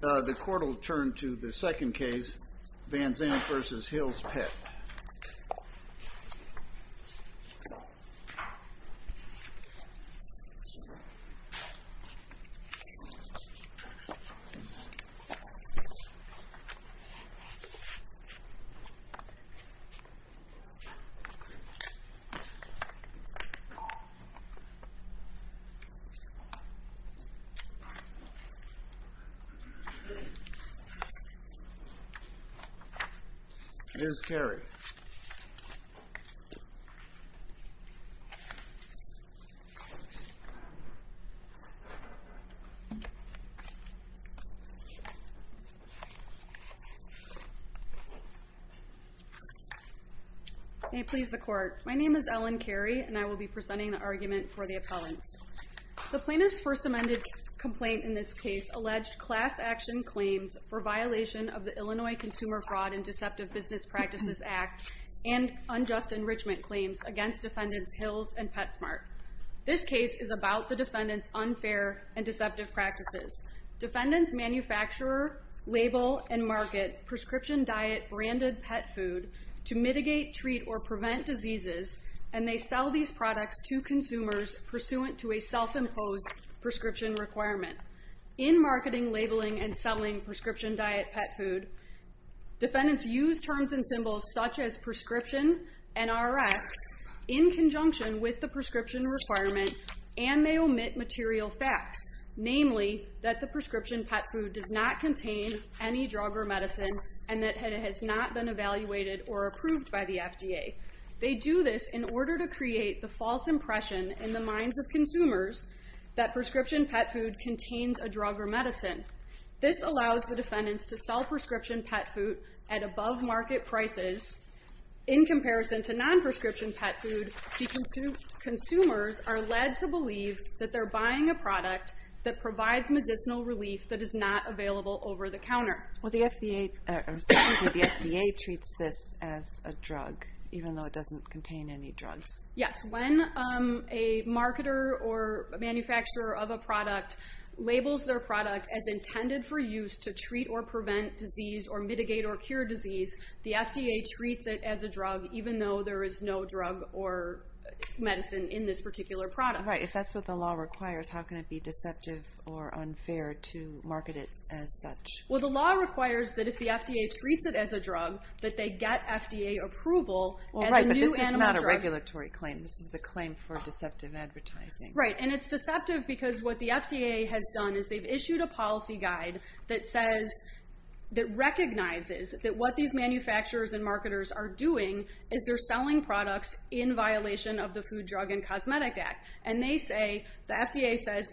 The court will turn to the second case, Vanzant v. Hill's Pet. Ms. Carey. May it please the court. My name is Ellen Carey and I will be presenting the argument for the appellants. The plaintiff's first amended complaint in this case alleged class action claims for violation of the Illinois Consumer Fraud and Deceptive Business Practices Act and unjust enrichment claims against defendants Hill's and PetSmart. This case is about the defendants unfair and deceptive practices. Defendants manufacture, label, and market prescription diet branded pet food to mitigate, treat, or prevent diseases and they sell these products to consumers pursuant to a self-imposed prescription requirement. In marketing, labeling, and selling prescription diet pet food, defendants use terms and symbols such as prescription and Rx in conjunction with the prescription requirement and they omit material facts. Namely, that the prescription pet food does not contain any drug or medicine and that it has not been evaluated or approved by the FDA. They do this in order to create the false impression in the minds of consumers that prescription pet food contains a drug or medicine. This allows the defendants to sell prescription pet food at above market prices in comparison to that provides medicinal relief that is not available over the counter. The FDA treats this as a drug even though it doesn't contain any drugs. Yes, when a marketer or manufacturer of a product labels their product as intended for use to treat or prevent disease or mitigate or cure disease, the FDA treats it as a drug even though there is no drug or medicine in this particular product. Right, if that's what the law requires, how can it be deceptive or unfair to market it as such? Well, the law requires that if the FDA treats it as a drug, that they get FDA approval as a new animal drug. Right, but this is not a regulatory claim. This is a claim for deceptive advertising. Right, and it's deceptive because what the FDA has done is they've issued a policy guide that says that recognizes that what these manufacturers and marketers are doing is they're selling products in violation of the Food, Drug, and Cosmetic Act. And they say, the FDA says,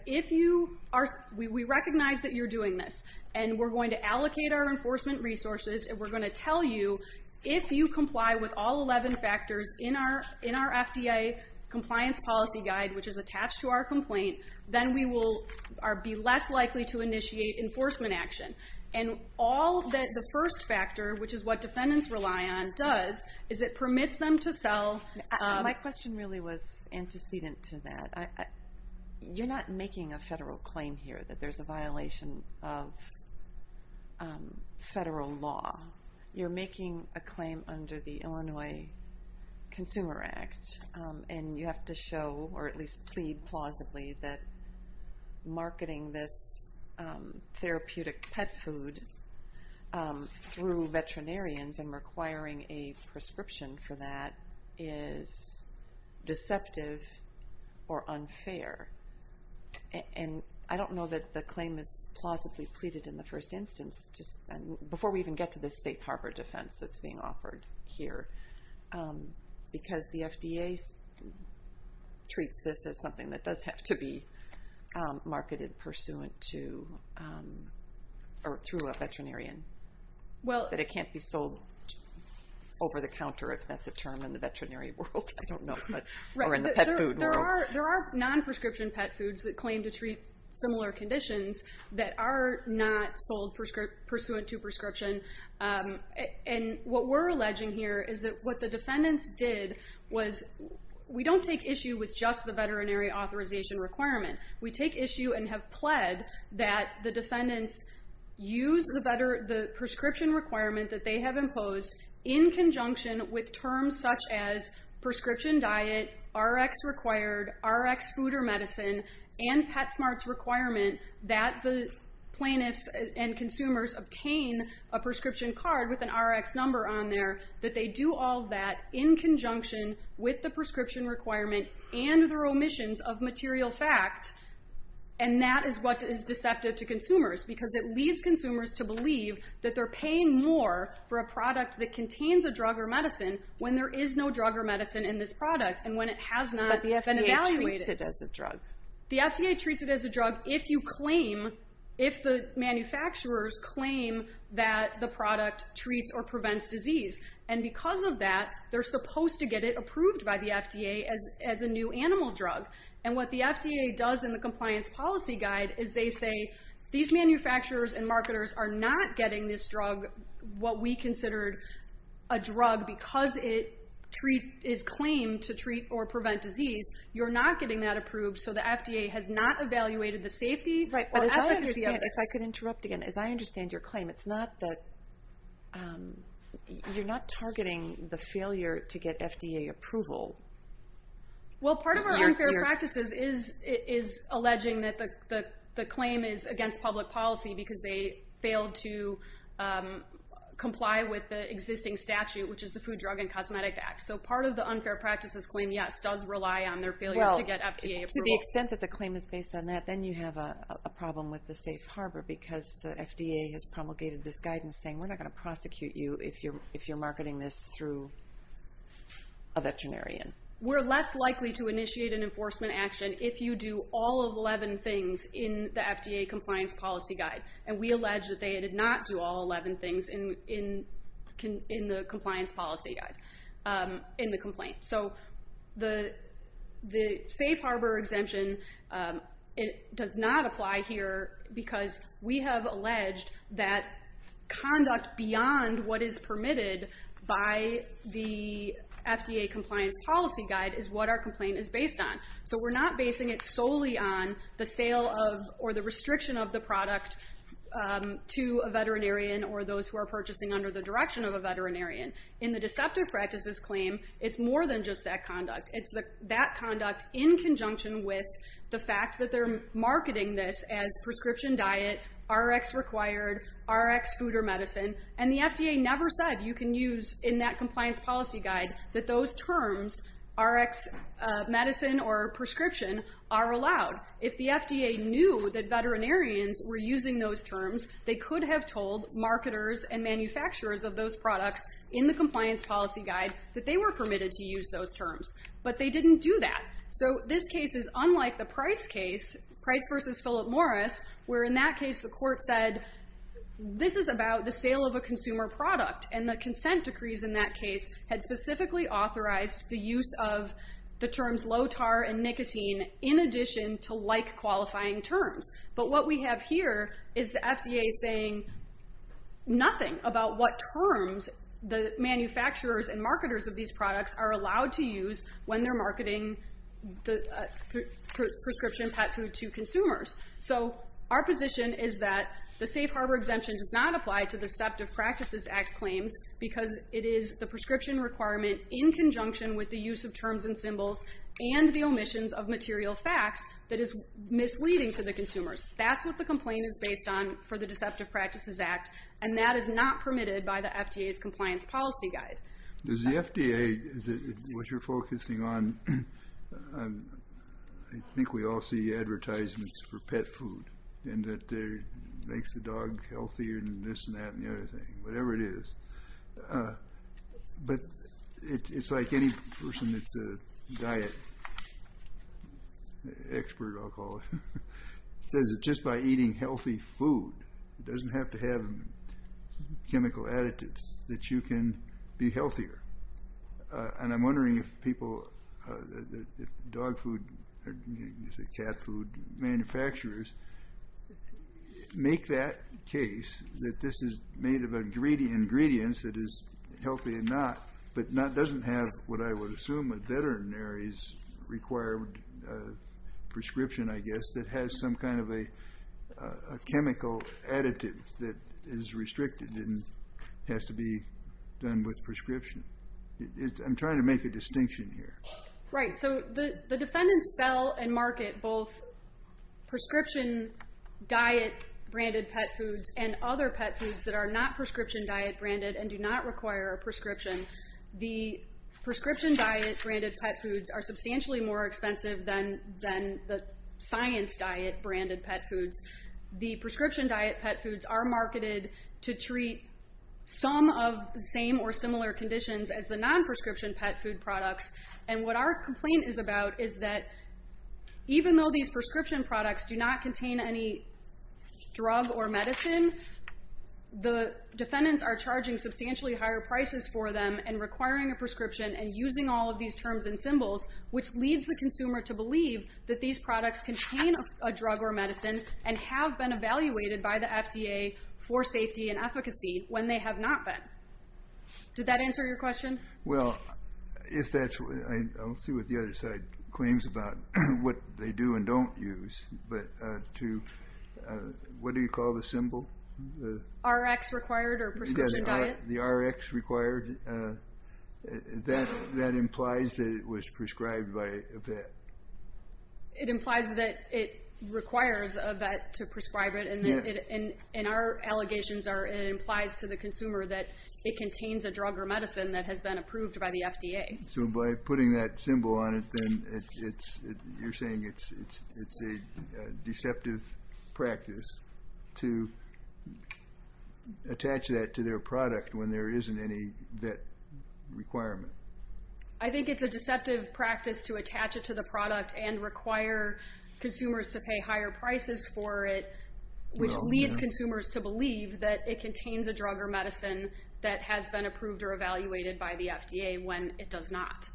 we recognize that you're doing this and we're going to allocate our enforcement resources and we're going to tell you if you comply with all 11 factors in our FDA compliance policy guide, which is attached to our complaint, then we will be less likely to initiate enforcement action. And the first factor, which is what defendants rely on, does is it permits them to sell... My question really was antecedent to that. You're not making a federal claim here that there's a violation of federal law. You're making a claim under the Illinois Consumer Act. And you have to show, or at least plead plausibly, that marketing this therapeutic pet food through veterinarians and requiring a prescription for that is deceptive or unfair. And I don't know that the claim is plausibly pleaded in the first instance, before we even get to this safe harbor defense that's being offered here, because the FDA treats this as something that does have to be marketed pursuant to, or through a veterinarian, that it can't be sold over the counter, if that's a term in the veterinary world, I don't know, or in the pet food world. There are non-prescription pet foods that claim to treat similar conditions that are not sold pursuant to prescription. And what we're alleging here is that what the defendants did was, we don't take issue with just the veterinary authorization requirement. We take issue and have pled that the defendants use the prescription requirement that they have imposed in conjunction with terms such as prescription diet, Rx required, Rx food or medicine, and PetSmart's requirement that the plaintiffs and consumers obtain a prescription card with an Rx number on there, that they do all that in conjunction with the prescription requirement and their omissions of material fact. And that is what is deceptive to consumers, because it leads consumers to believe that they're paying more for a product that contains a drug or medicine when there is no drug or medicine in this product, and when it has not been evaluated. But the FDA treats it as a drug. The FDA treats it as a drug if you claim, if the manufacturers claim that the product treats or prevents disease. And because of that, they're supposed to get it approved by the FDA as a new animal drug. And what the FDA does in the compliance policy guide is they say, these manufacturers and marketers are not getting this drug what we considered a drug because it is claimed to treat or prevent disease. You're not getting that approved, so the FDA has not evaluated the safety or efficacy of this. As I understand your claim, you're not targeting the failure to get FDA approval? Well, part of our unfair practices is alleging that the claim is against public policy because they failed to comply with the existing statute, which is the Food, Drug, and Cosmetic Act. So part of the unfair practices claim, yes, does rely on their failure to get FDA approval. To the extent that the claim is based on that, then you have a problem with the safe harbor because the FDA has promulgated this guidance saying, we're not going to prosecute you if you're marketing this through a veterinarian. We're less likely to initiate an enforcement action if you do all 11 things in the FDA compliance policy guide. And we allege that they did not do all 11 things in the compliance policy guide. So the safe harbor exemption does not apply here because we have alleged that conduct beyond what is permitted by the FDA compliance policy guide is what our complaint is based on. So we're not basing it solely on the sale or the restriction of the product to a veterinarian or those who are purchasing under the direction of a veterinarian. In the deceptive practices claim, it's more than just that conduct. It's that conduct in conjunction with the fact that they're marketing this as prescription diet, Rx required, Rx food or medicine. And the FDA never said you can use in that compliance policy guide that those terms, Rx medicine or prescription, are allowed. If the FDA knew that veterinarians were using those terms, they could have told marketers and manufacturers of those products in the compliance policy guide that they were permitted to use those terms. But they didn't do that. So this case is unlike the Price case, Price versus Philip Morris, where in that case the court said this is about the sale of a consumer product. And the consent decrees in that case had specifically authorized the use of the terms low-tar and nicotine in addition to like qualifying terms. But what we have here is the FDA saying nothing about what terms the manufacturers and marketers of these products are allowed to use when they're marketing the prescription pet food to consumers. So our position is that the safe harbor exemption does not apply to the deceptive practices act claims because it is the prescription requirement in conjunction with the use of terms and symbols and the omissions of material facts that is misleading to the consumers. That's what the complaint is based on for the deceptive practices act, and that is not permitted by the FDA's compliance policy guide. Does the FDA, is it what you're focusing on, I think we all see advertisements for pet food and that makes the dog healthier and this and that and the other thing, whatever it is. But it's like any person that's a diet expert, I'll call it, says that just by eating healthy food, it doesn't have to have chemical additives that you can be healthier. And I'm wondering if people, dog food, cat food manufacturers make that case that this is made of ingredients that is healthy and not, but doesn't have what I would assume a veterinary's required prescription, I guess, that has some kind of a chemical additive that is restricted and has to be done with prescription. I'm trying to make a distinction here. Right, so the defendants sell and market both prescription diet-branded pet foods and other pet foods that are not prescription diet-branded and do not require a prescription. The prescription diet-branded pet foods are substantially more expensive than the science diet-branded pet foods. The prescription diet pet foods are marketed to treat some of the same or similar conditions as the non-prescription pet food products, and what our complaint is about is that even though these prescription products do not contain any drug or medicine, the defendants are charging substantially higher prices for them and requiring a prescription and using all of these terms and symbols, which leads the consumer to believe that these products contain a drug or medicine and have been evaluated by the FDA for safety and efficacy when they have not been. Did that answer your question? Well, I don't see what the other side claims about what they do and don't use, but what do you call the symbol? The Rx required or prescription diet? The Rx required. That implies that it was prescribed by a vet. It implies that it requires a vet to prescribe it, and our allegations are it implies to the consumer that it contains a drug or medicine that has been approved by the FDA. So by putting that symbol on it, then you're saying it's a deceptive practice to attach that to their product when there isn't any vet requirement. I think it's a deceptive practice to attach it to the product and require consumers to pay higher prices for it, which leads consumers to believe that it contains a drug or medicine that has been approved or evaluated by the FDA when it does not.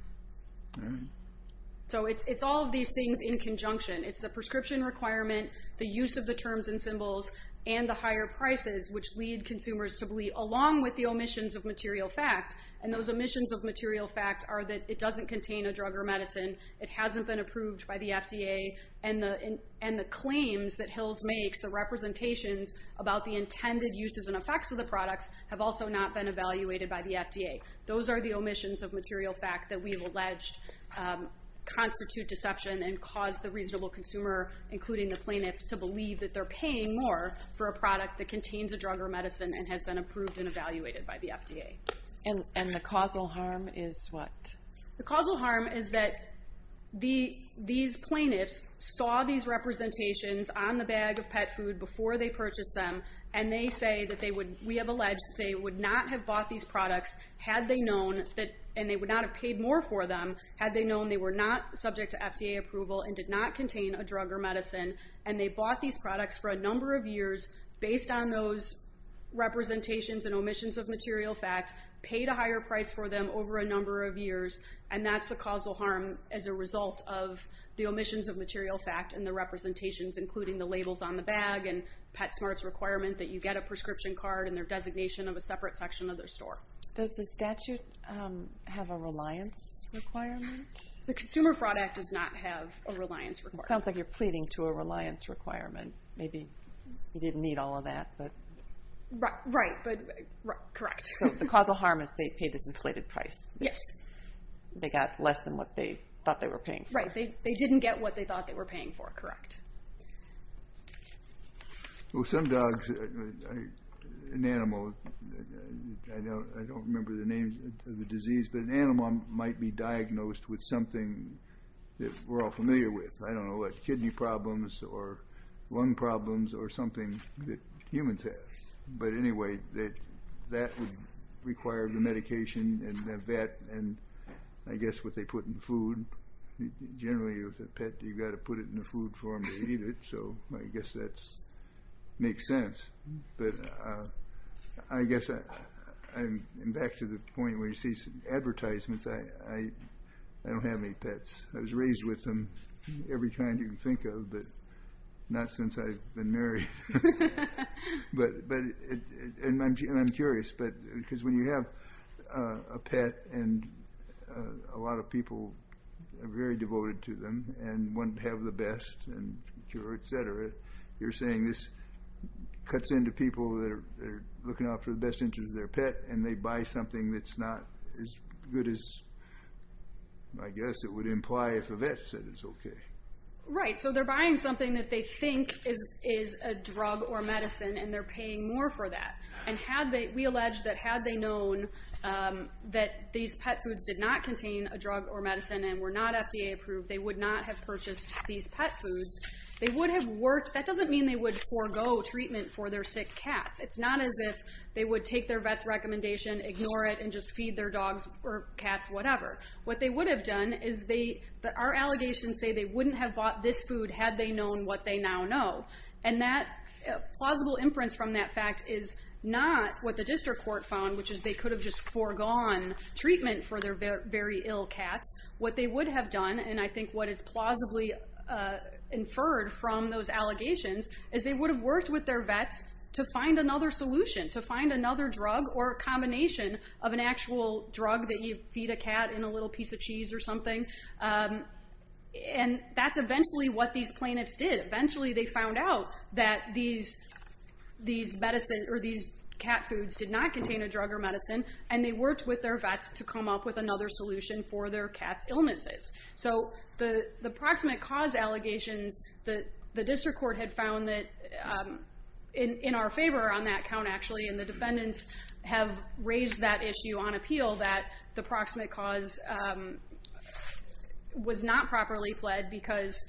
So it's all of these things in conjunction. It's the prescription requirement, the use of the terms and symbols, and the higher prices, which lead consumers to believe, along with the omissions of material fact, and those omissions of material fact are that it doesn't contain a drug or medicine, it hasn't been approved by the FDA, and the claims that Hills makes, the representations about the intended uses and effects of the products, have also not been evaluated by the FDA. Those are the omissions of material fact that we have alleged constitute deception and cause the reasonable consumer, including the plaintiffs, to believe that they're paying more for a product that contains a drug or medicine and has been approved and evaluated by the FDA. And the causal harm is what? The causal harm is that these plaintiffs saw these representations on the bag of pet food before they purchased them, and they say that they would, we have alleged, that they would not have bought these products had they known, and they would not have paid more for them, had they known they were not subject to FDA approval and did not contain a drug or medicine, and they bought these products for a number of years based on those representations and omissions of material fact, paid a higher price for them over a number of years, and that's the causal harm as a result of the omissions of material fact and the representations, including the labels on the bag and PetSmart's requirement that you get a prescription card and their designation of a separate section of their store. Does the statute have a reliance requirement? The Consumer Fraud Act does not have a reliance requirement. It sounds like you're pleading to a reliance requirement. Maybe you didn't need all of that, but... Right, but, correct. So the causal harm is they paid this inflated price. Yes. They got less than what they thought they were paying for. Right, they didn't get what they thought they were paying for, correct. Well, some dogs, an animal, I don't remember the name of the disease, but an animal might be diagnosed with something that we're all familiar with. I don't know what, kidney problems or lung problems or something that humans have. But anyway, that would require the medication and the vet and, I guess, what they put in food. Generally, with a pet, you've got to put it in a food form to eat it, so I guess that makes sense. But I guess I'm back to the point where you see advertisements. I don't have any pets. I was raised with them every time you can think of, but not since I've been married. But, and I'm curious, because when you have a pet and a lot of people are very devoted to them and want to have the best and cure, etc., you're saying this cuts into people that are looking out for the best interest of their pet and they buy something that's not as good as, I guess, it would imply if a vet said it's okay. Right, so they're buying something that they think is a drug or medicine and they're paying more for that. And we allege that had they known that these pet foods did not contain a drug or medicine and were not FDA approved, they would not have purchased these pet foods. They would have worked. That doesn't mean they would forego treatment for their sick cats. It's not as if they would take their vet's recommendation, ignore it, and just feed their dogs or cats, whatever. What they would have done is they, our allegations say they wouldn't have bought this food had they known what they now know. And that plausible inference from that fact is not what the district court found, which is they could have just foregone treatment for their very ill cats. What they would have done, and I think what is plausibly inferred from those allegations, is they would have worked with their vets to find another solution, to find another drug or combination of an actual drug that you feed a cat in a little piece of cheese or something. And that's eventually what these plaintiffs did. Eventually they found out that these cat foods did not contain a drug or medicine, and they worked with their vets to come up with another solution for their cat's illnesses. So the proximate cause allegations, the district court had found that, in our favor on that count actually, and the defendants have raised that issue on appeal that the proximate cause was not properly fled because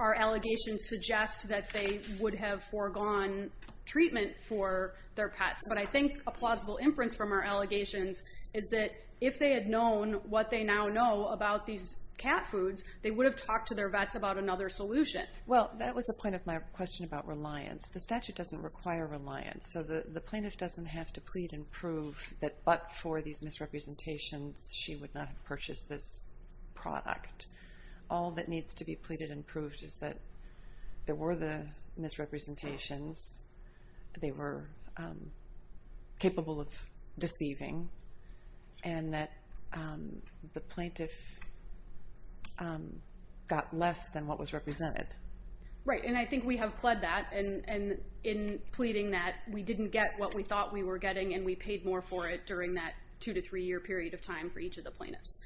our allegations suggest that they would have foregone treatment for their pets. But I think a plausible inference from our allegations is that if they had known what they now know about these cat foods, they would have talked to their vets about another solution. Well, that was the point of my question about reliance. The statute doesn't require reliance, so the plaintiff doesn't have to plead and prove that but for these misrepresentations she would not have purchased this product. All that needs to be pleaded and proved is that there were the misrepresentations, they were capable of deceiving, and that the plaintiff got less than what was represented. Right, and I think we have pled that in pleading that we didn't get what we thought we were getting and we paid more for it during that two to three year period of time for each of the plaintiffs.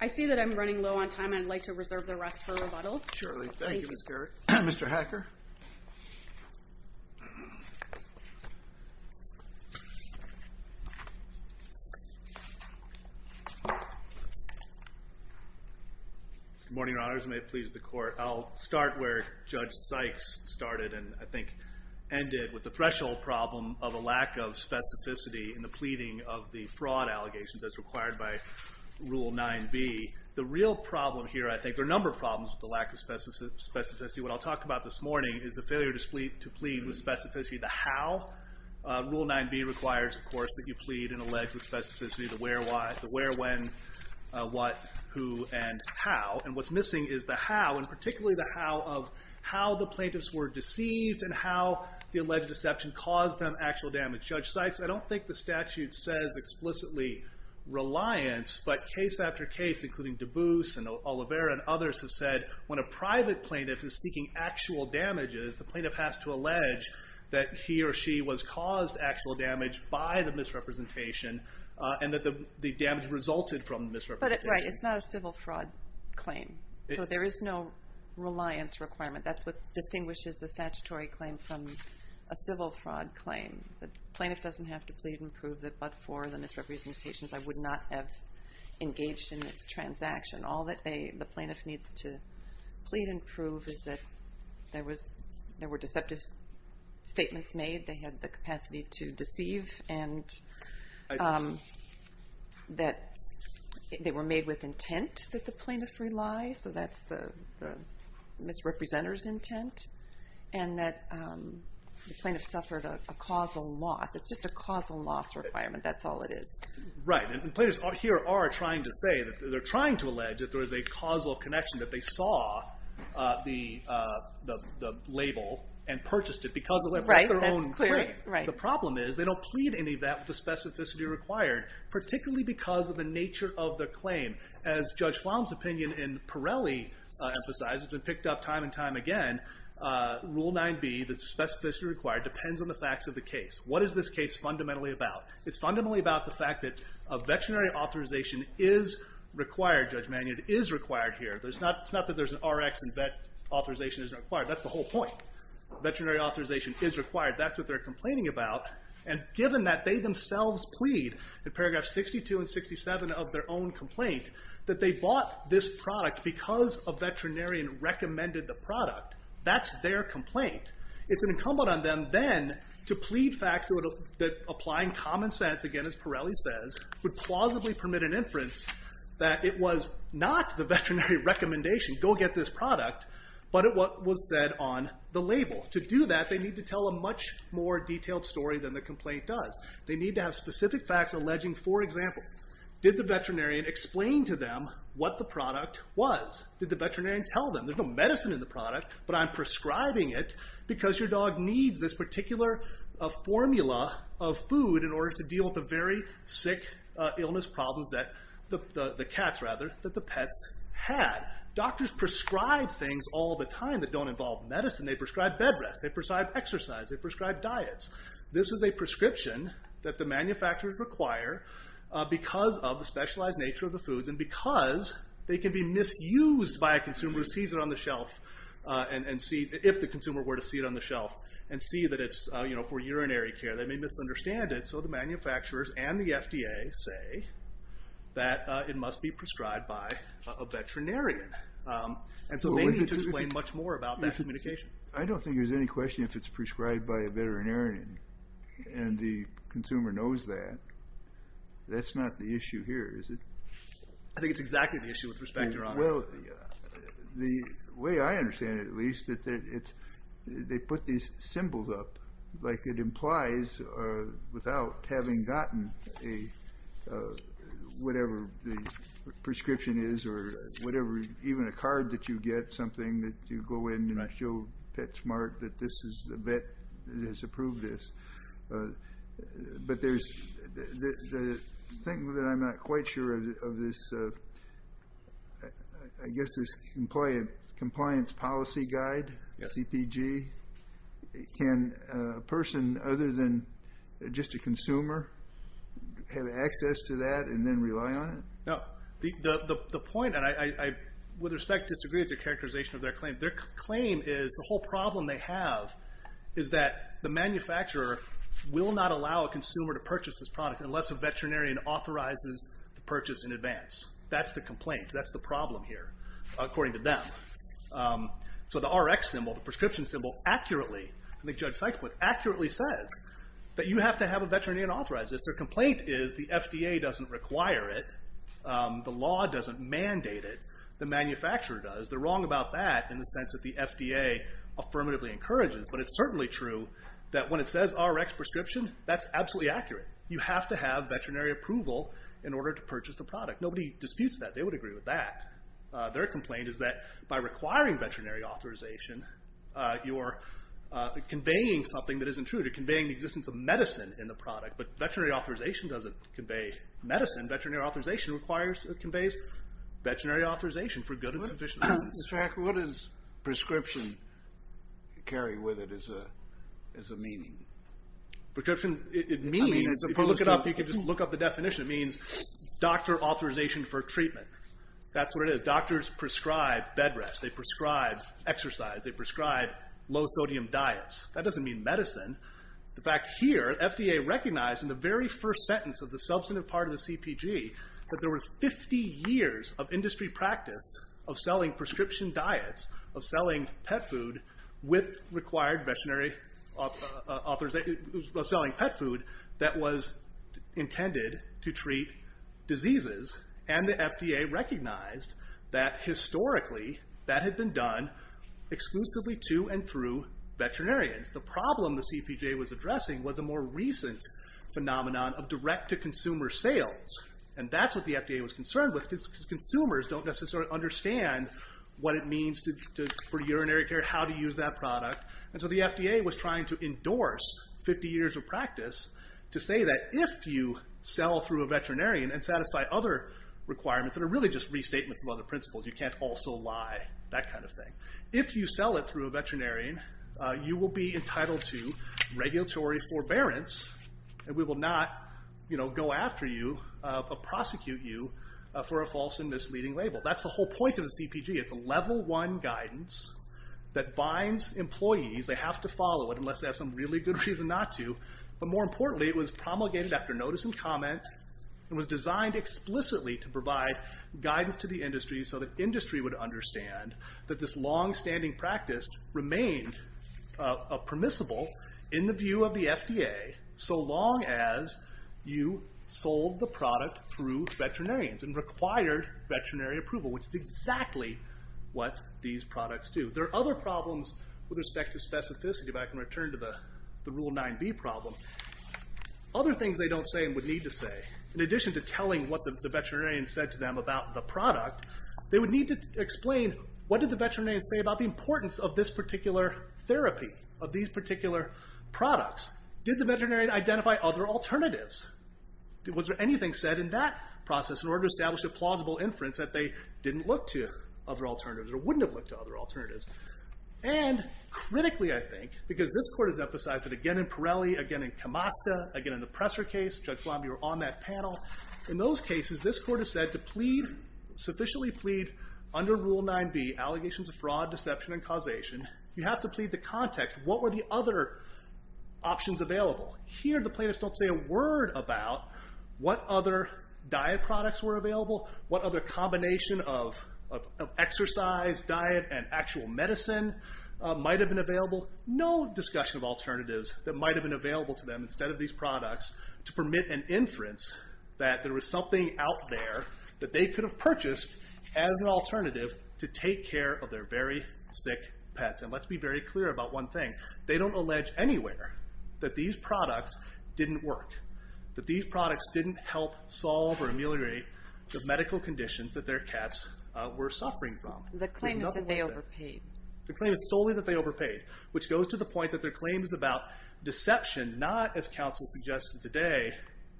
I see that I'm running low on time. I'd like to reserve the rest for rebuttal. Surely. Thank you, Ms. Garrett. Mr. Hacker? Good morning, Your Honors. May it please the Court. I'll start where Judge Sykes started and I think ended with the threshold problem of a lack of specificity in the pleading of the fraud allegations as required by Rule 9b. The real problem here, I think, there are a number of problems with the lack of specificity. What I'll talk about this morning is the failure to plead with specificity, the how. Rule 9b requires, of course, that you plead and allege with specificity the where, when, what, who, and how. And what's missing is the how, and particularly the how of how the plaintiffs were deceived and how the alleged deception caused them actual damage. Judge Sykes, I don't think the statute says explicitly reliance, but case after case, including DeBoos and Olivera and others, have said when a private plaintiff is seeking actual damages, the plaintiff has to allege that he or she was caused actual damage by the misrepresentation and that the damage resulted from the misrepresentation. But, right, it's not a civil fraud claim. So there is no reliance requirement. That's what distinguishes the statutory claim from a civil fraud claim. The plaintiff doesn't have to plead and prove that but for the misrepresentations I would not have engaged in this transaction. All that the plaintiff needs to plead and prove is that there were deceptive statements made, they had the capacity to deceive, and that they were made with intent that the plaintiff rely, so that's the misrepresenter's intent, and that the plaintiff suffered a causal loss. It's just a causal loss requirement. That's all it is. Right, and plaintiffs here are trying to say, they're trying to allege that there was a causal connection, that they saw the label and purchased it because it was their own claim. Right, that's clear. The problem is they don't plead any of that with the specificity required, particularly because of the nature of the claim. As Judge Flom's opinion in Pirelli emphasized, it's been picked up time and time again, Rule 9b, the specificity required, depends on the facts of the case. What is this case fundamentally about? It's fundamentally about the fact that a veterinary authorization is required, Judge Magnud, is required here. It's not that there's an Rx and vet authorization isn't required. That's the whole point. Veterinary authorization is required. That's what they're complaining about, and given that they themselves plead, in paragraphs 62 and 67 of their own complaint, that they bought this product because a veterinarian recommended the product, that's their complaint. It's incumbent on them then to plead facts that, applying common sense, again, as Pirelli says, would plausibly permit an inference that it was not the veterinary recommendation, go get this product, but it was said on the label. To do that, they need to tell a much more detailed story than the complaint does. They need to have specific facts alleging, for example, did the veterinarian explain to them what the product was? Did the veterinarian tell them, there's no medicine in the product, but I'm prescribing it because your dog needs this particular formula of food in order to deal with the very sick illness problems that the cats, rather, that the pets had. Doctors prescribe things all the time that don't involve medicine. They prescribe bed rest. They prescribe exercise. They prescribe diets. This is a prescription that the manufacturers require because of the specialized nature of the foods and because they can be misused by a consumer who sees it on the shelf, if the consumer were to see it on the shelf, and see that it's for urinary care. They may misunderstand it. So the manufacturers and the FDA say that it must be prescribed by a veterinarian. And so they need to explain much more about that communication. I don't think there's any question if it's prescribed by a veterinarian and the consumer knows that. That's not the issue here, is it? I think it's exactly the issue with respect to... Well, the way I understand it, at least, that they put these symbols up, like it implies without having gotten whatever the prescription is or whatever, even a card that you get, something that you go in, and I show PetSmart that this is a vet that has approved this. But the thing that I'm not quite sure of this, I guess, is compliance policy guide, CPG. Can a person, other than just a consumer, have access to that and then rely on it? No. The point, and I, with respect, disagree with your characterization of their claim. Their claim is the whole problem they have is that the manufacturer will not allow a consumer to purchase this product unless a veterinarian authorizes the purchase in advance. That's the complaint. That's the problem here, according to them. So the RX symbol, the prescription symbol, accurately, I think Judge Sykes accurately says that you have to have a veterinarian authorize this. Their complaint is the FDA doesn't require it. The law doesn't mandate it. The manufacturer does. They're wrong about that in the sense that the FDA affirmatively encourages, but it's certainly true that when it says RX prescription, that's absolutely accurate. You have to have veterinary approval in order to purchase the product. Nobody disputes that. They would agree with that. Their complaint is that by requiring veterinary authorization, you're conveying something that isn't true. You're conveying the existence of medicine in the product, but veterinary authorization doesn't convey medicine. Veterinary authorization conveys veterinary authorization for good and sufficient reasons. Mr. Hacker, what does prescription carry with it as a meaning? Prescription, it means, if you look it up, you can just look up the definition. It means doctor authorization for treatment. That's what it is. Doctors prescribe bed rest. They prescribe exercise. They prescribe low-sodium diets. That doesn't mean medicine. The fact here, FDA recognized in the very first sentence of the substantive part of the CPG, that there was 50 years of industry practice of selling prescription diets, of selling pet food with required veterinary authorization, of selling pet food that was intended to treat diseases, and the FDA recognized that historically that had been done exclusively to and through veterinarians. The problem the CPG was addressing was a more recent phenomenon of direct-to-consumer sales, and that's what the FDA was concerned with because consumers don't necessarily understand what it means for urinary care, how to use that product. And so the FDA was trying to endorse 50 years of practice to say that if you sell through a veterinarian and satisfy other requirements that are really just restatements of other principles, you can't also lie, that kind of thing. If you sell it through a veterinarian, you will be entitled to regulatory forbearance, and we will not go after you or prosecute you for a false and misleading label. That's the whole point of the CPG. It's a level one guidance that binds employees. They have to follow it unless they have some really good reason not to. But more importantly, it was promulgated after notice and comment, and was designed explicitly to provide guidance to the industry so the industry would understand that this longstanding practice remained permissible in the view of the FDA so long as you sold the product through veterinarians and required veterinary approval, which is exactly what these products do. There are other problems with respect to specificity, but I can return to the Rule 9b problem. Other things they don't say and would need to say, in addition to telling what the veterinarian said to them about the product, they would need to explain what did the veterinarian say about the importance of this particular therapy, of these particular products. Did the veterinarian identify other alternatives? Was there anything said in that process in order to establish a plausible inference that they didn't look to other alternatives or wouldn't have looked to other alternatives? And critically, I think, because this court has emphasized it again in Pirelli, again in Camasta, again in the Presser case, Judge Flomby were on that panel. In those cases, this court has said to sufficiently plead under Rule 9b, allegations of fraud, deception, and causation, you have to plead the context. What were the other options available? Here the plaintiffs don't say a word about what other diet products were available, what other combination of exercise, diet, and actual medicine might have been available. No discussion of alternatives that might have been available to them instead of these products to permit an inference that there was something out there that they could have purchased as an alternative to take care of their very sick pets. And let's be very clear about one thing. They don't allege anywhere that these products didn't work, that these products didn't help solve or ameliorate the medical conditions that their cats were suffering from. The claim is that they overpaid. The claim is solely that they overpaid, which goes to the point that their claim is about deception, not, as counsel suggested today,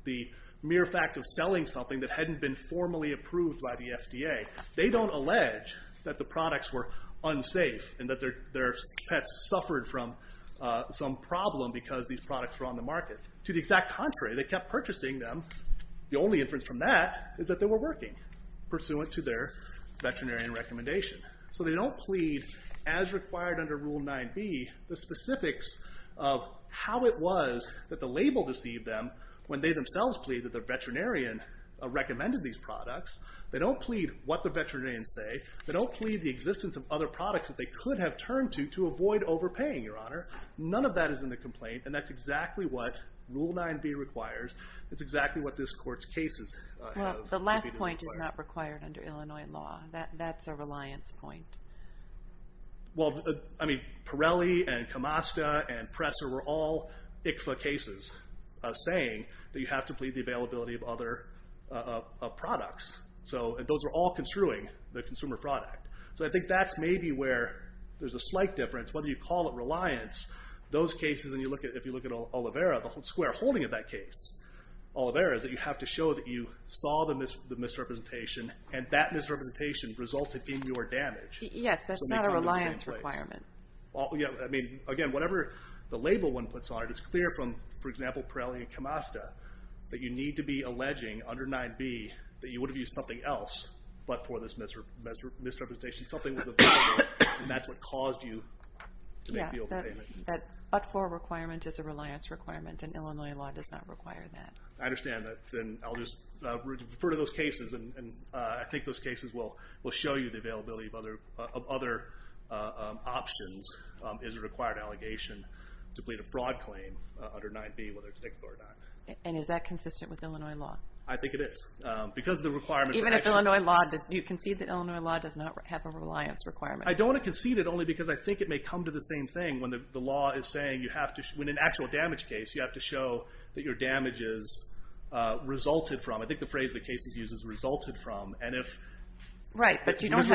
the mere fact of selling something that hadn't been formally approved by the FDA. They don't allege that the products were unsafe and that their pets suffered from some problem because these products were on the market. To the exact contrary, they kept purchasing them. The only inference from that is that they were working, pursuant to their veterinarian recommendation. So they don't plead, as required under Rule 9b, the specifics of how it was that the label deceived them when they themselves plead that the veterinarian recommended these products. They don't plead what the veterinarians say. They don't plead the existence of other products that they could have turned to to avoid overpaying, Your Honor. None of that is in the complaint, and that's exactly what Rule 9b requires. It's exactly what this Court's cases have to be required. The point is not required under Illinois law. That's a reliance point. Well, I mean, Pirelli and Camasta and Presser were all ICFA cases saying that you have to plead the availability of other products. And those were all construing the consumer product. So I think that's maybe where there's a slight difference. Whether you call it reliance, those cases, and if you look at Oliveira, the whole square holding of that case, Oliveira, is that you have to show that you saw the misrepresentation, and that misrepresentation resulted in your damage. Yes, that's not a reliance requirement. I mean, again, whatever the label one puts on it, it's clear from, for example, Pirelli and Camasta, that you need to be alleging under 9b that you would have used something else but for this misrepresentation. Something was available, and that's what caused you to make the overpayment. Yeah, that but for requirement is a reliance requirement, and Illinois law does not require that. I understand that. Then I'll just refer to those cases, and I think those cases will show you the availability of other options is a required allegation to plead a fraud claim under 9b, whether it's ticked or not. And is that consistent with Illinois law? I think it is. Because of the requirement for action. Even if Illinois law does not have a reliance requirement? I don't want to concede it only because I think it may come to the same thing when the law is saying you have to, in an actual damage case, you have to show that your damages resulted from. I think the phrase that cases use is resulted from. Right, but you don't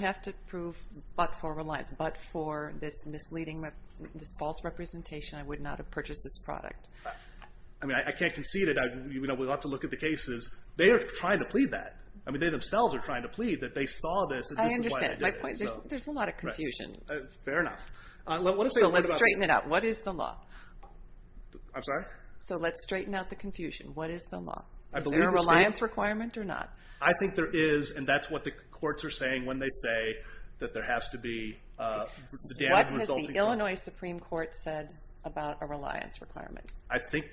have to prove but for reliance, but for this misleading, this false representation, I would not have purchased this product. I mean, I can't concede it. We'll have to look at the cases. They are trying to plead that. I mean, they themselves are trying to plead that they saw this and this is why they did it. I understand. There's a lot of confusion. Fair enough. So let's straighten it out. What is the law? I'm sorry? So let's straighten out the confusion. What is the law? Is there a reliance requirement or not? I think there is, and that's what the courts are saying when they say that there has to be the damage resulting from. What has the Illinois Supreme Court said about a reliance requirement? I think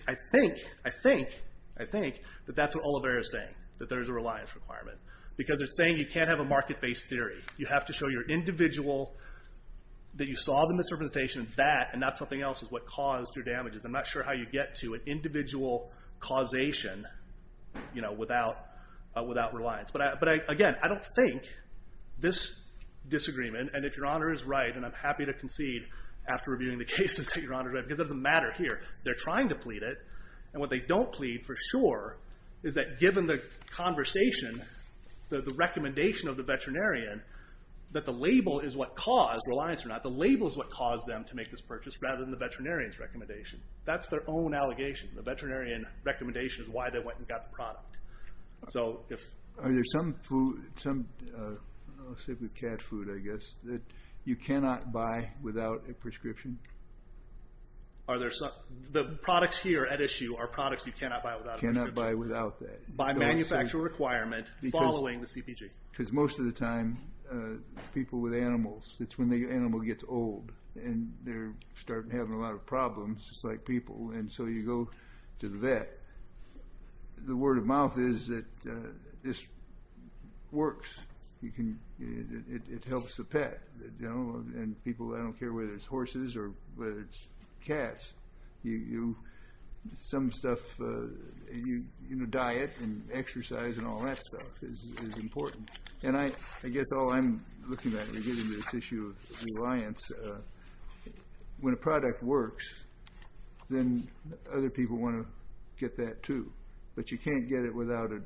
that that's what Olivera is saying, that there's a reliance requirement. Because it's saying you can't have a market-based theory. You have to show your individual that you saw the misrepresentation of that and not something else is what caused your damages. I'm not sure how you get to an individual causation without reliance. But, again, I don't think this disagreement, and if Your Honor is right, and I'm happy to concede after reviewing the cases that Your Honor is right, because it doesn't matter here. They're trying to plead it, and what they don't plead for sure is that given the conversation, the recommendation of the veterinarian, that the label is what caused reliance or not. The label is what caused them to make this purchase rather than the veterinarian's recommendation. That's their own allegation. The veterinarian's recommendation is why they went and got the product. Are there some food, let's say cat food, I guess, that you cannot buy without a prescription? The products here at issue are products you cannot buy without a prescription. Cannot buy without that. By manufacturer requirement following the CPG. Because most of the time, people with animals, it's when the animal gets old, and they start having a lot of problems, just like people, and so you go to the vet. The word of mouth is that this works. It helps the pet. People don't care whether it's horses or whether it's cats. Some stuff, diet and exercise and all that stuff is important. I guess all I'm looking at in getting to this issue of reliance, when a product works, then other people want to get that too. But you can't get it without a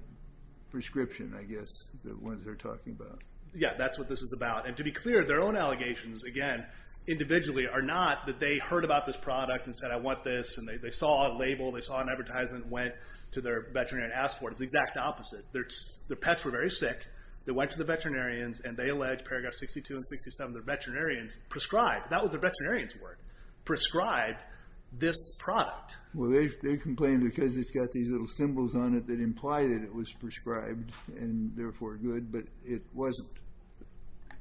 prescription, I guess, the ones they're talking about. Yeah, that's what this is about. To be clear, their own allegations, again, individually are not that they heard about this product and said, I want this, and they saw a label, they saw an advertisement, and went to their veterinarian and asked for it. It's the exact opposite. Their pets were very sick. They went to the veterinarians, and they alleged, paragraph 62 and 67, their veterinarians prescribed, that was their veterinarian's word, prescribed this product. Well, they complained because it's got these little symbols on it that imply that it was prescribed and therefore good, but it wasn't.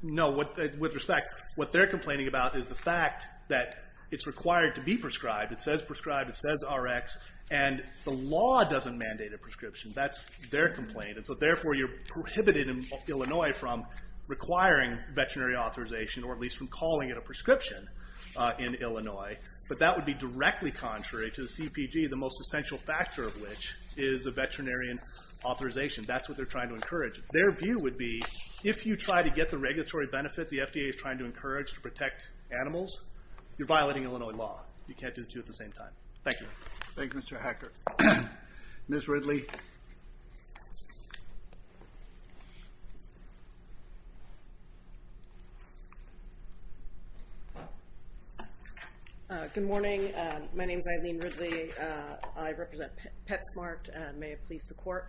No, with respect, what they're complaining about is the fact that it's required to be prescribed. It says prescribed, it says Rx, and the law doesn't mandate a prescription. That's their complaint. And so, therefore, you're prohibited in Illinois from requiring veterinary authorization, or at least from calling it a prescription in Illinois. But that would be directly contrary to the CPG, the most essential factor of which is the veterinarian authorization. That's what they're trying to encourage. Their view would be if you try to get the regulatory benefit the FDA is trying to encourage to protect animals, you're violating Illinois law. You can't do the two at the same time. Thank you. Thank you, Mr. Hacker. Ms. Ridley. Good morning. My name is Eileen Ridley. I represent PetSmart. May it please the Court.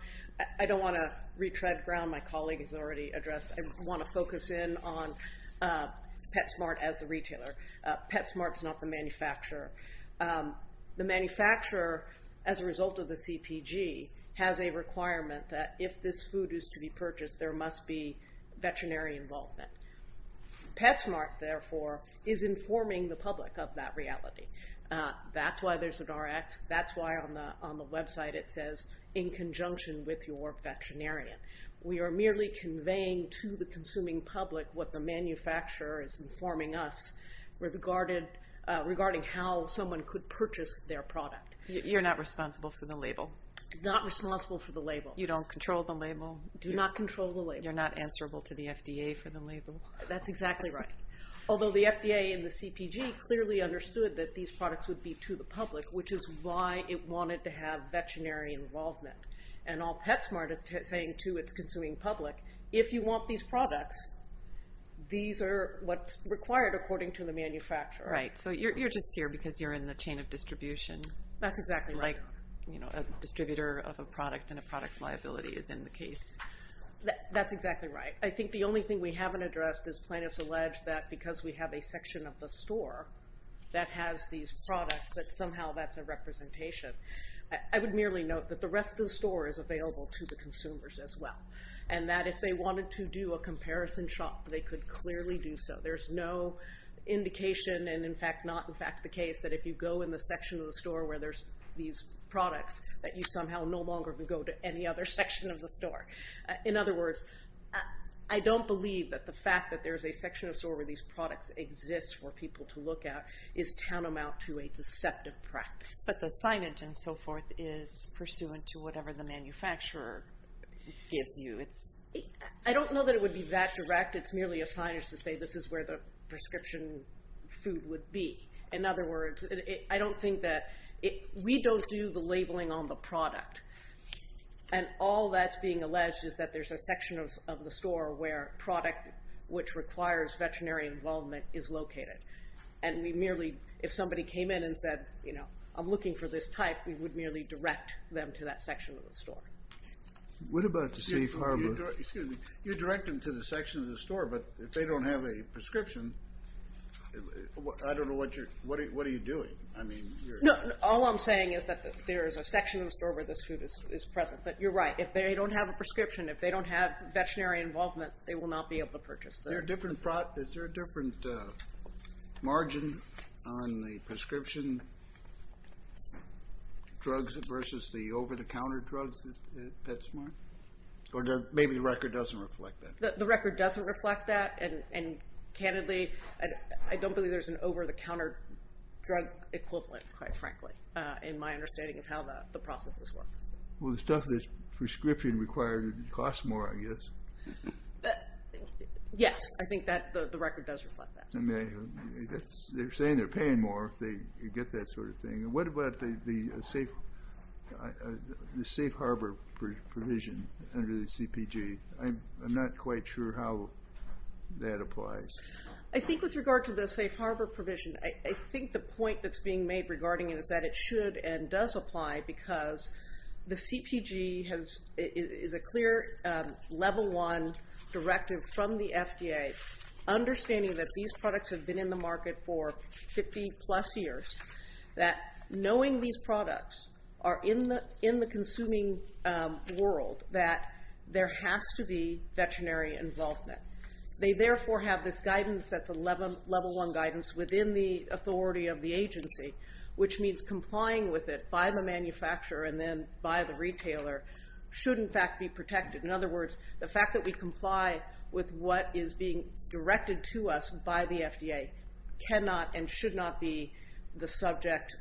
I don't want to retread ground my colleague has already addressed. I want to focus in on PetSmart as the retailer. PetSmart is not the manufacturer. The manufacturer, as a result of the CPG, has a requirement that if this food is to be purchased, there must be veterinary involvement. PetSmart, therefore, is informing the public of that reality. That's why there's an Rx. That's why on the website it says, in conjunction with your veterinarian. We are merely conveying to the consuming public what the manufacturer is informing us regarding how someone could purchase their product. You're not responsible for the label. Not responsible for the label. You don't control the label. Do not control the label. You're not answerable to the FDA for the label. That's exactly right. Although the FDA and the CPG clearly understood that these products would be to the public, which is why it wanted to have veterinary involvement. And all PetSmart is saying to its consuming public, if you want these products, these are what's required according to the manufacturer. Right, so you're just here because you're in the chain of distribution. That's exactly right. Like a distributor of a product and a product's liability is in the case. That's exactly right. I think the only thing we haven't addressed is plaintiffs allege that because we have a section of the store that has these products, that somehow that's a representation. I would merely note that the rest of the store is available to the consumers as well. And that if they wanted to do a comparison shop, they could clearly do so. There's no indication, and in fact not in fact the case, that if you go in the section of the store where there's these products, that you somehow no longer can go to any other section of the store. In other words, I don't believe that the fact that there's a section of the store where these products exist for people to look at is tantamount to a deceptive practice. But the signage and so forth is pursuant to whatever the manufacturer gives you. I don't know that it would be that direct. It's merely a signage to say this is where the prescription food would be. In other words, I don't think that... We don't do the labeling on the product. And all that's being alleged is that there's a section of the store where product which requires veterinary involvement is located. And we merely... If somebody came in and said, you know, I'm looking for this type, we would merely direct them to that section of the store. What about the safe harbors? You direct them to the section of the store, but if they don't have a prescription, I don't know what you're... What are you doing? I mean, you're... No, all I'm saying is that there is a section of the store where this food is present. But you're right. If they don't have a prescription, if they don't have veterinary involvement, they will not be able to purchase the... Is there a different margin on the prescription drugs versus the over-the-counter drugs at PetSmart? Or maybe the record doesn't reflect that. The record doesn't reflect that. And candidly, I don't believe there's an over-the-counter drug equivalent, quite frankly, in my understanding of how the processes work. Well, the stuff that's prescription-required costs more, I guess. Yes. I think that the record does reflect that. I mean, they're saying they're paying more if they get that sort of thing. What about the safe harbor provision under the CPG? I'm not quite sure how that applies. I think with regard to the safe harbor provision, I think the point that's being made regarding it is that it should and does apply because the CPG is a clear Level 1 directive from the FDA, understanding that these products have been in the market for 50-plus years, that knowing these products are in the consuming world, that there has to be veterinary involvement. They therefore have this guidance that's a Level 1 guidance within the authority of the agency, which means complying with it by the manufacturer and then by the retailer should, in fact, be protected. In other words, the fact that we comply with what is being directed to us by the FDA cannot and should not subject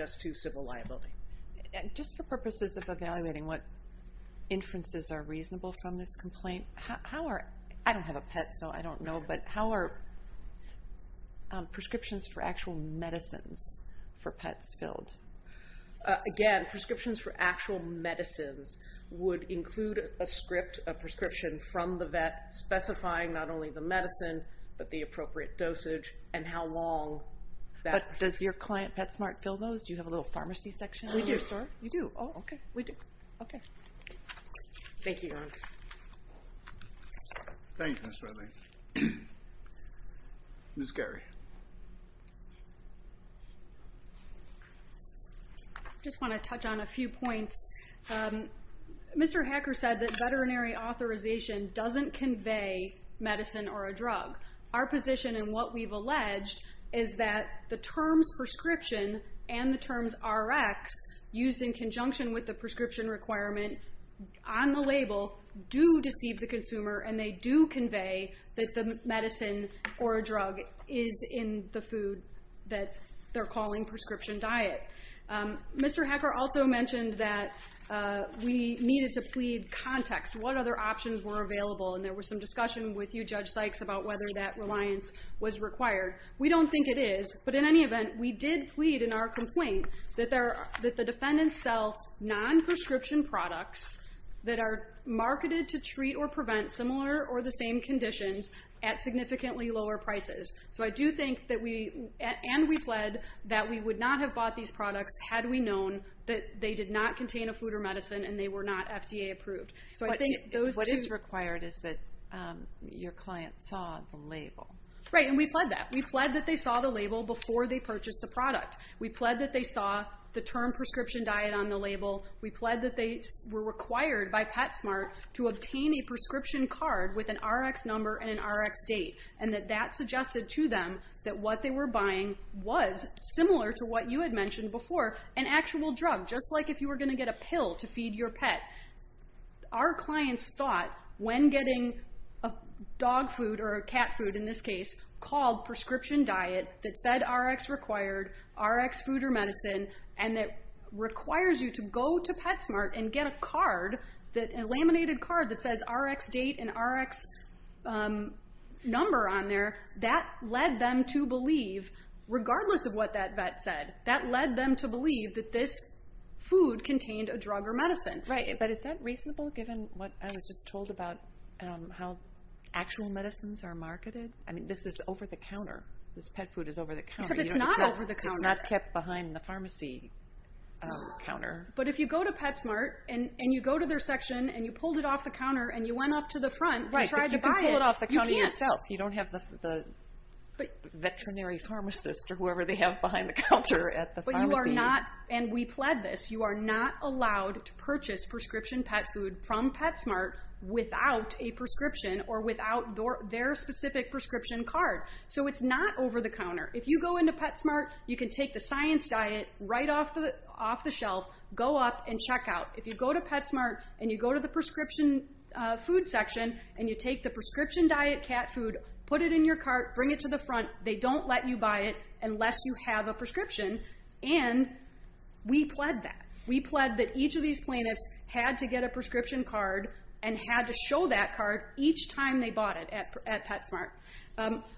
us to civil liability. Just for purposes of evaluating what inferences are reasonable from this complaint, I don't have a pet, so I don't know, but how are prescriptions for actual medicines for pets filled? Again, prescriptions for actual medicines would include a script, a prescription from the vet specifying not only the medicine, but the appropriate dosage and how long that... But does your client, PetSmart, fill those? Do you have a little pharmacy section in your store? We do. You do? Oh, okay. We do. Okay. Thank you, Erin. Thank you, Ms. Ridley. Ms. Geary. I just want to touch on a few points. Mr. Hacker said that veterinary authorization doesn't convey medicine or a drug. Our position in what we've alleged is that the terms prescription and the terms Rx, used in conjunction with the prescription requirement on the label do deceive the consumer and they do convey that the medicine or a drug is in the food that they're calling prescription diet. Mr. Hacker also mentioned that we needed to plead context. What other options were available? And there was some discussion with you, Judge Sykes, about whether that reliance was required. We don't think it is, but in any event, we did plead in our complaint that the defendants sell non-prescription products that are marketed to treat or prevent similar or the same conditions at significantly lower prices. So I do think that we, and we pled, that we would not have bought these products had we known that they did not contain a food or medicine and they were not FDA approved. What is required is that your client saw the label. Right, and we pled that. We pled that they saw the label before they purchased the product. We pled that they saw the term prescription diet on the label. We pled that they were required by PetSmart to obtain a prescription card with an Rx number and an Rx date and that that suggested to them that what they were buying was similar to what you had mentioned before, an actual drug, just like if you were going to get a pill to feed your pet. Our clients thought when getting dog food or cat food, in this case, called prescription diet that said Rx required, Rx food or medicine, and it requires you to go to PetSmart and get a card, a laminated card that says Rx date and Rx number on there. That led them to believe, regardless of what that vet said, that led them to believe that this food contained a drug or medicine. Right, but is that reasonable given what I was just told about how actual medicines are marketed? I mean, this is over the counter. This pet food is over the counter. Except it's not over the counter. It's not kept behind the pharmacy counter. But if you go to PetSmart and you go to their section and you pulled it off the counter and you went up to the front and tried to buy it, you can't. Right, but you can pull it off the counter yourself. You don't have the veterinary pharmacist or whoever they have behind the counter at the pharmacy. But you are not, and we pled this, you are not allowed to purchase prescription pet food from PetSmart without a prescription or without their specific prescription card. So it's not over the counter. If you go into PetSmart, you can take the science diet right off the shelf, go up and check out. If you go to PetSmart and you go to the prescription food section and you take the prescription diet cat food, put it in your cart, bring it to the front, they don't let you buy it unless you have a prescription. And we pled that. We pled that each of these plaintiffs had to get a prescription card and had to show that card each time they bought it at PetSmart.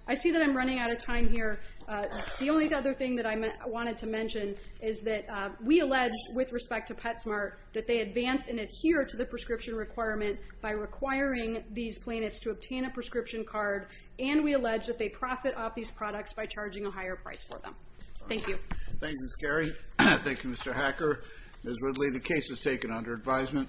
I see that I'm running out of time here. The only other thing that I wanted to mention is that we allege with respect to PetSmart that they advance and adhere to the prescription requirement by requiring these plaintiffs to obtain a prescription card and we allege that they profit off these products by charging a higher price for them. Thank you. Thank you, Ms. Carey. Thank you, Mr. Hacker. Ms. Ridley, the case is taken under advisement.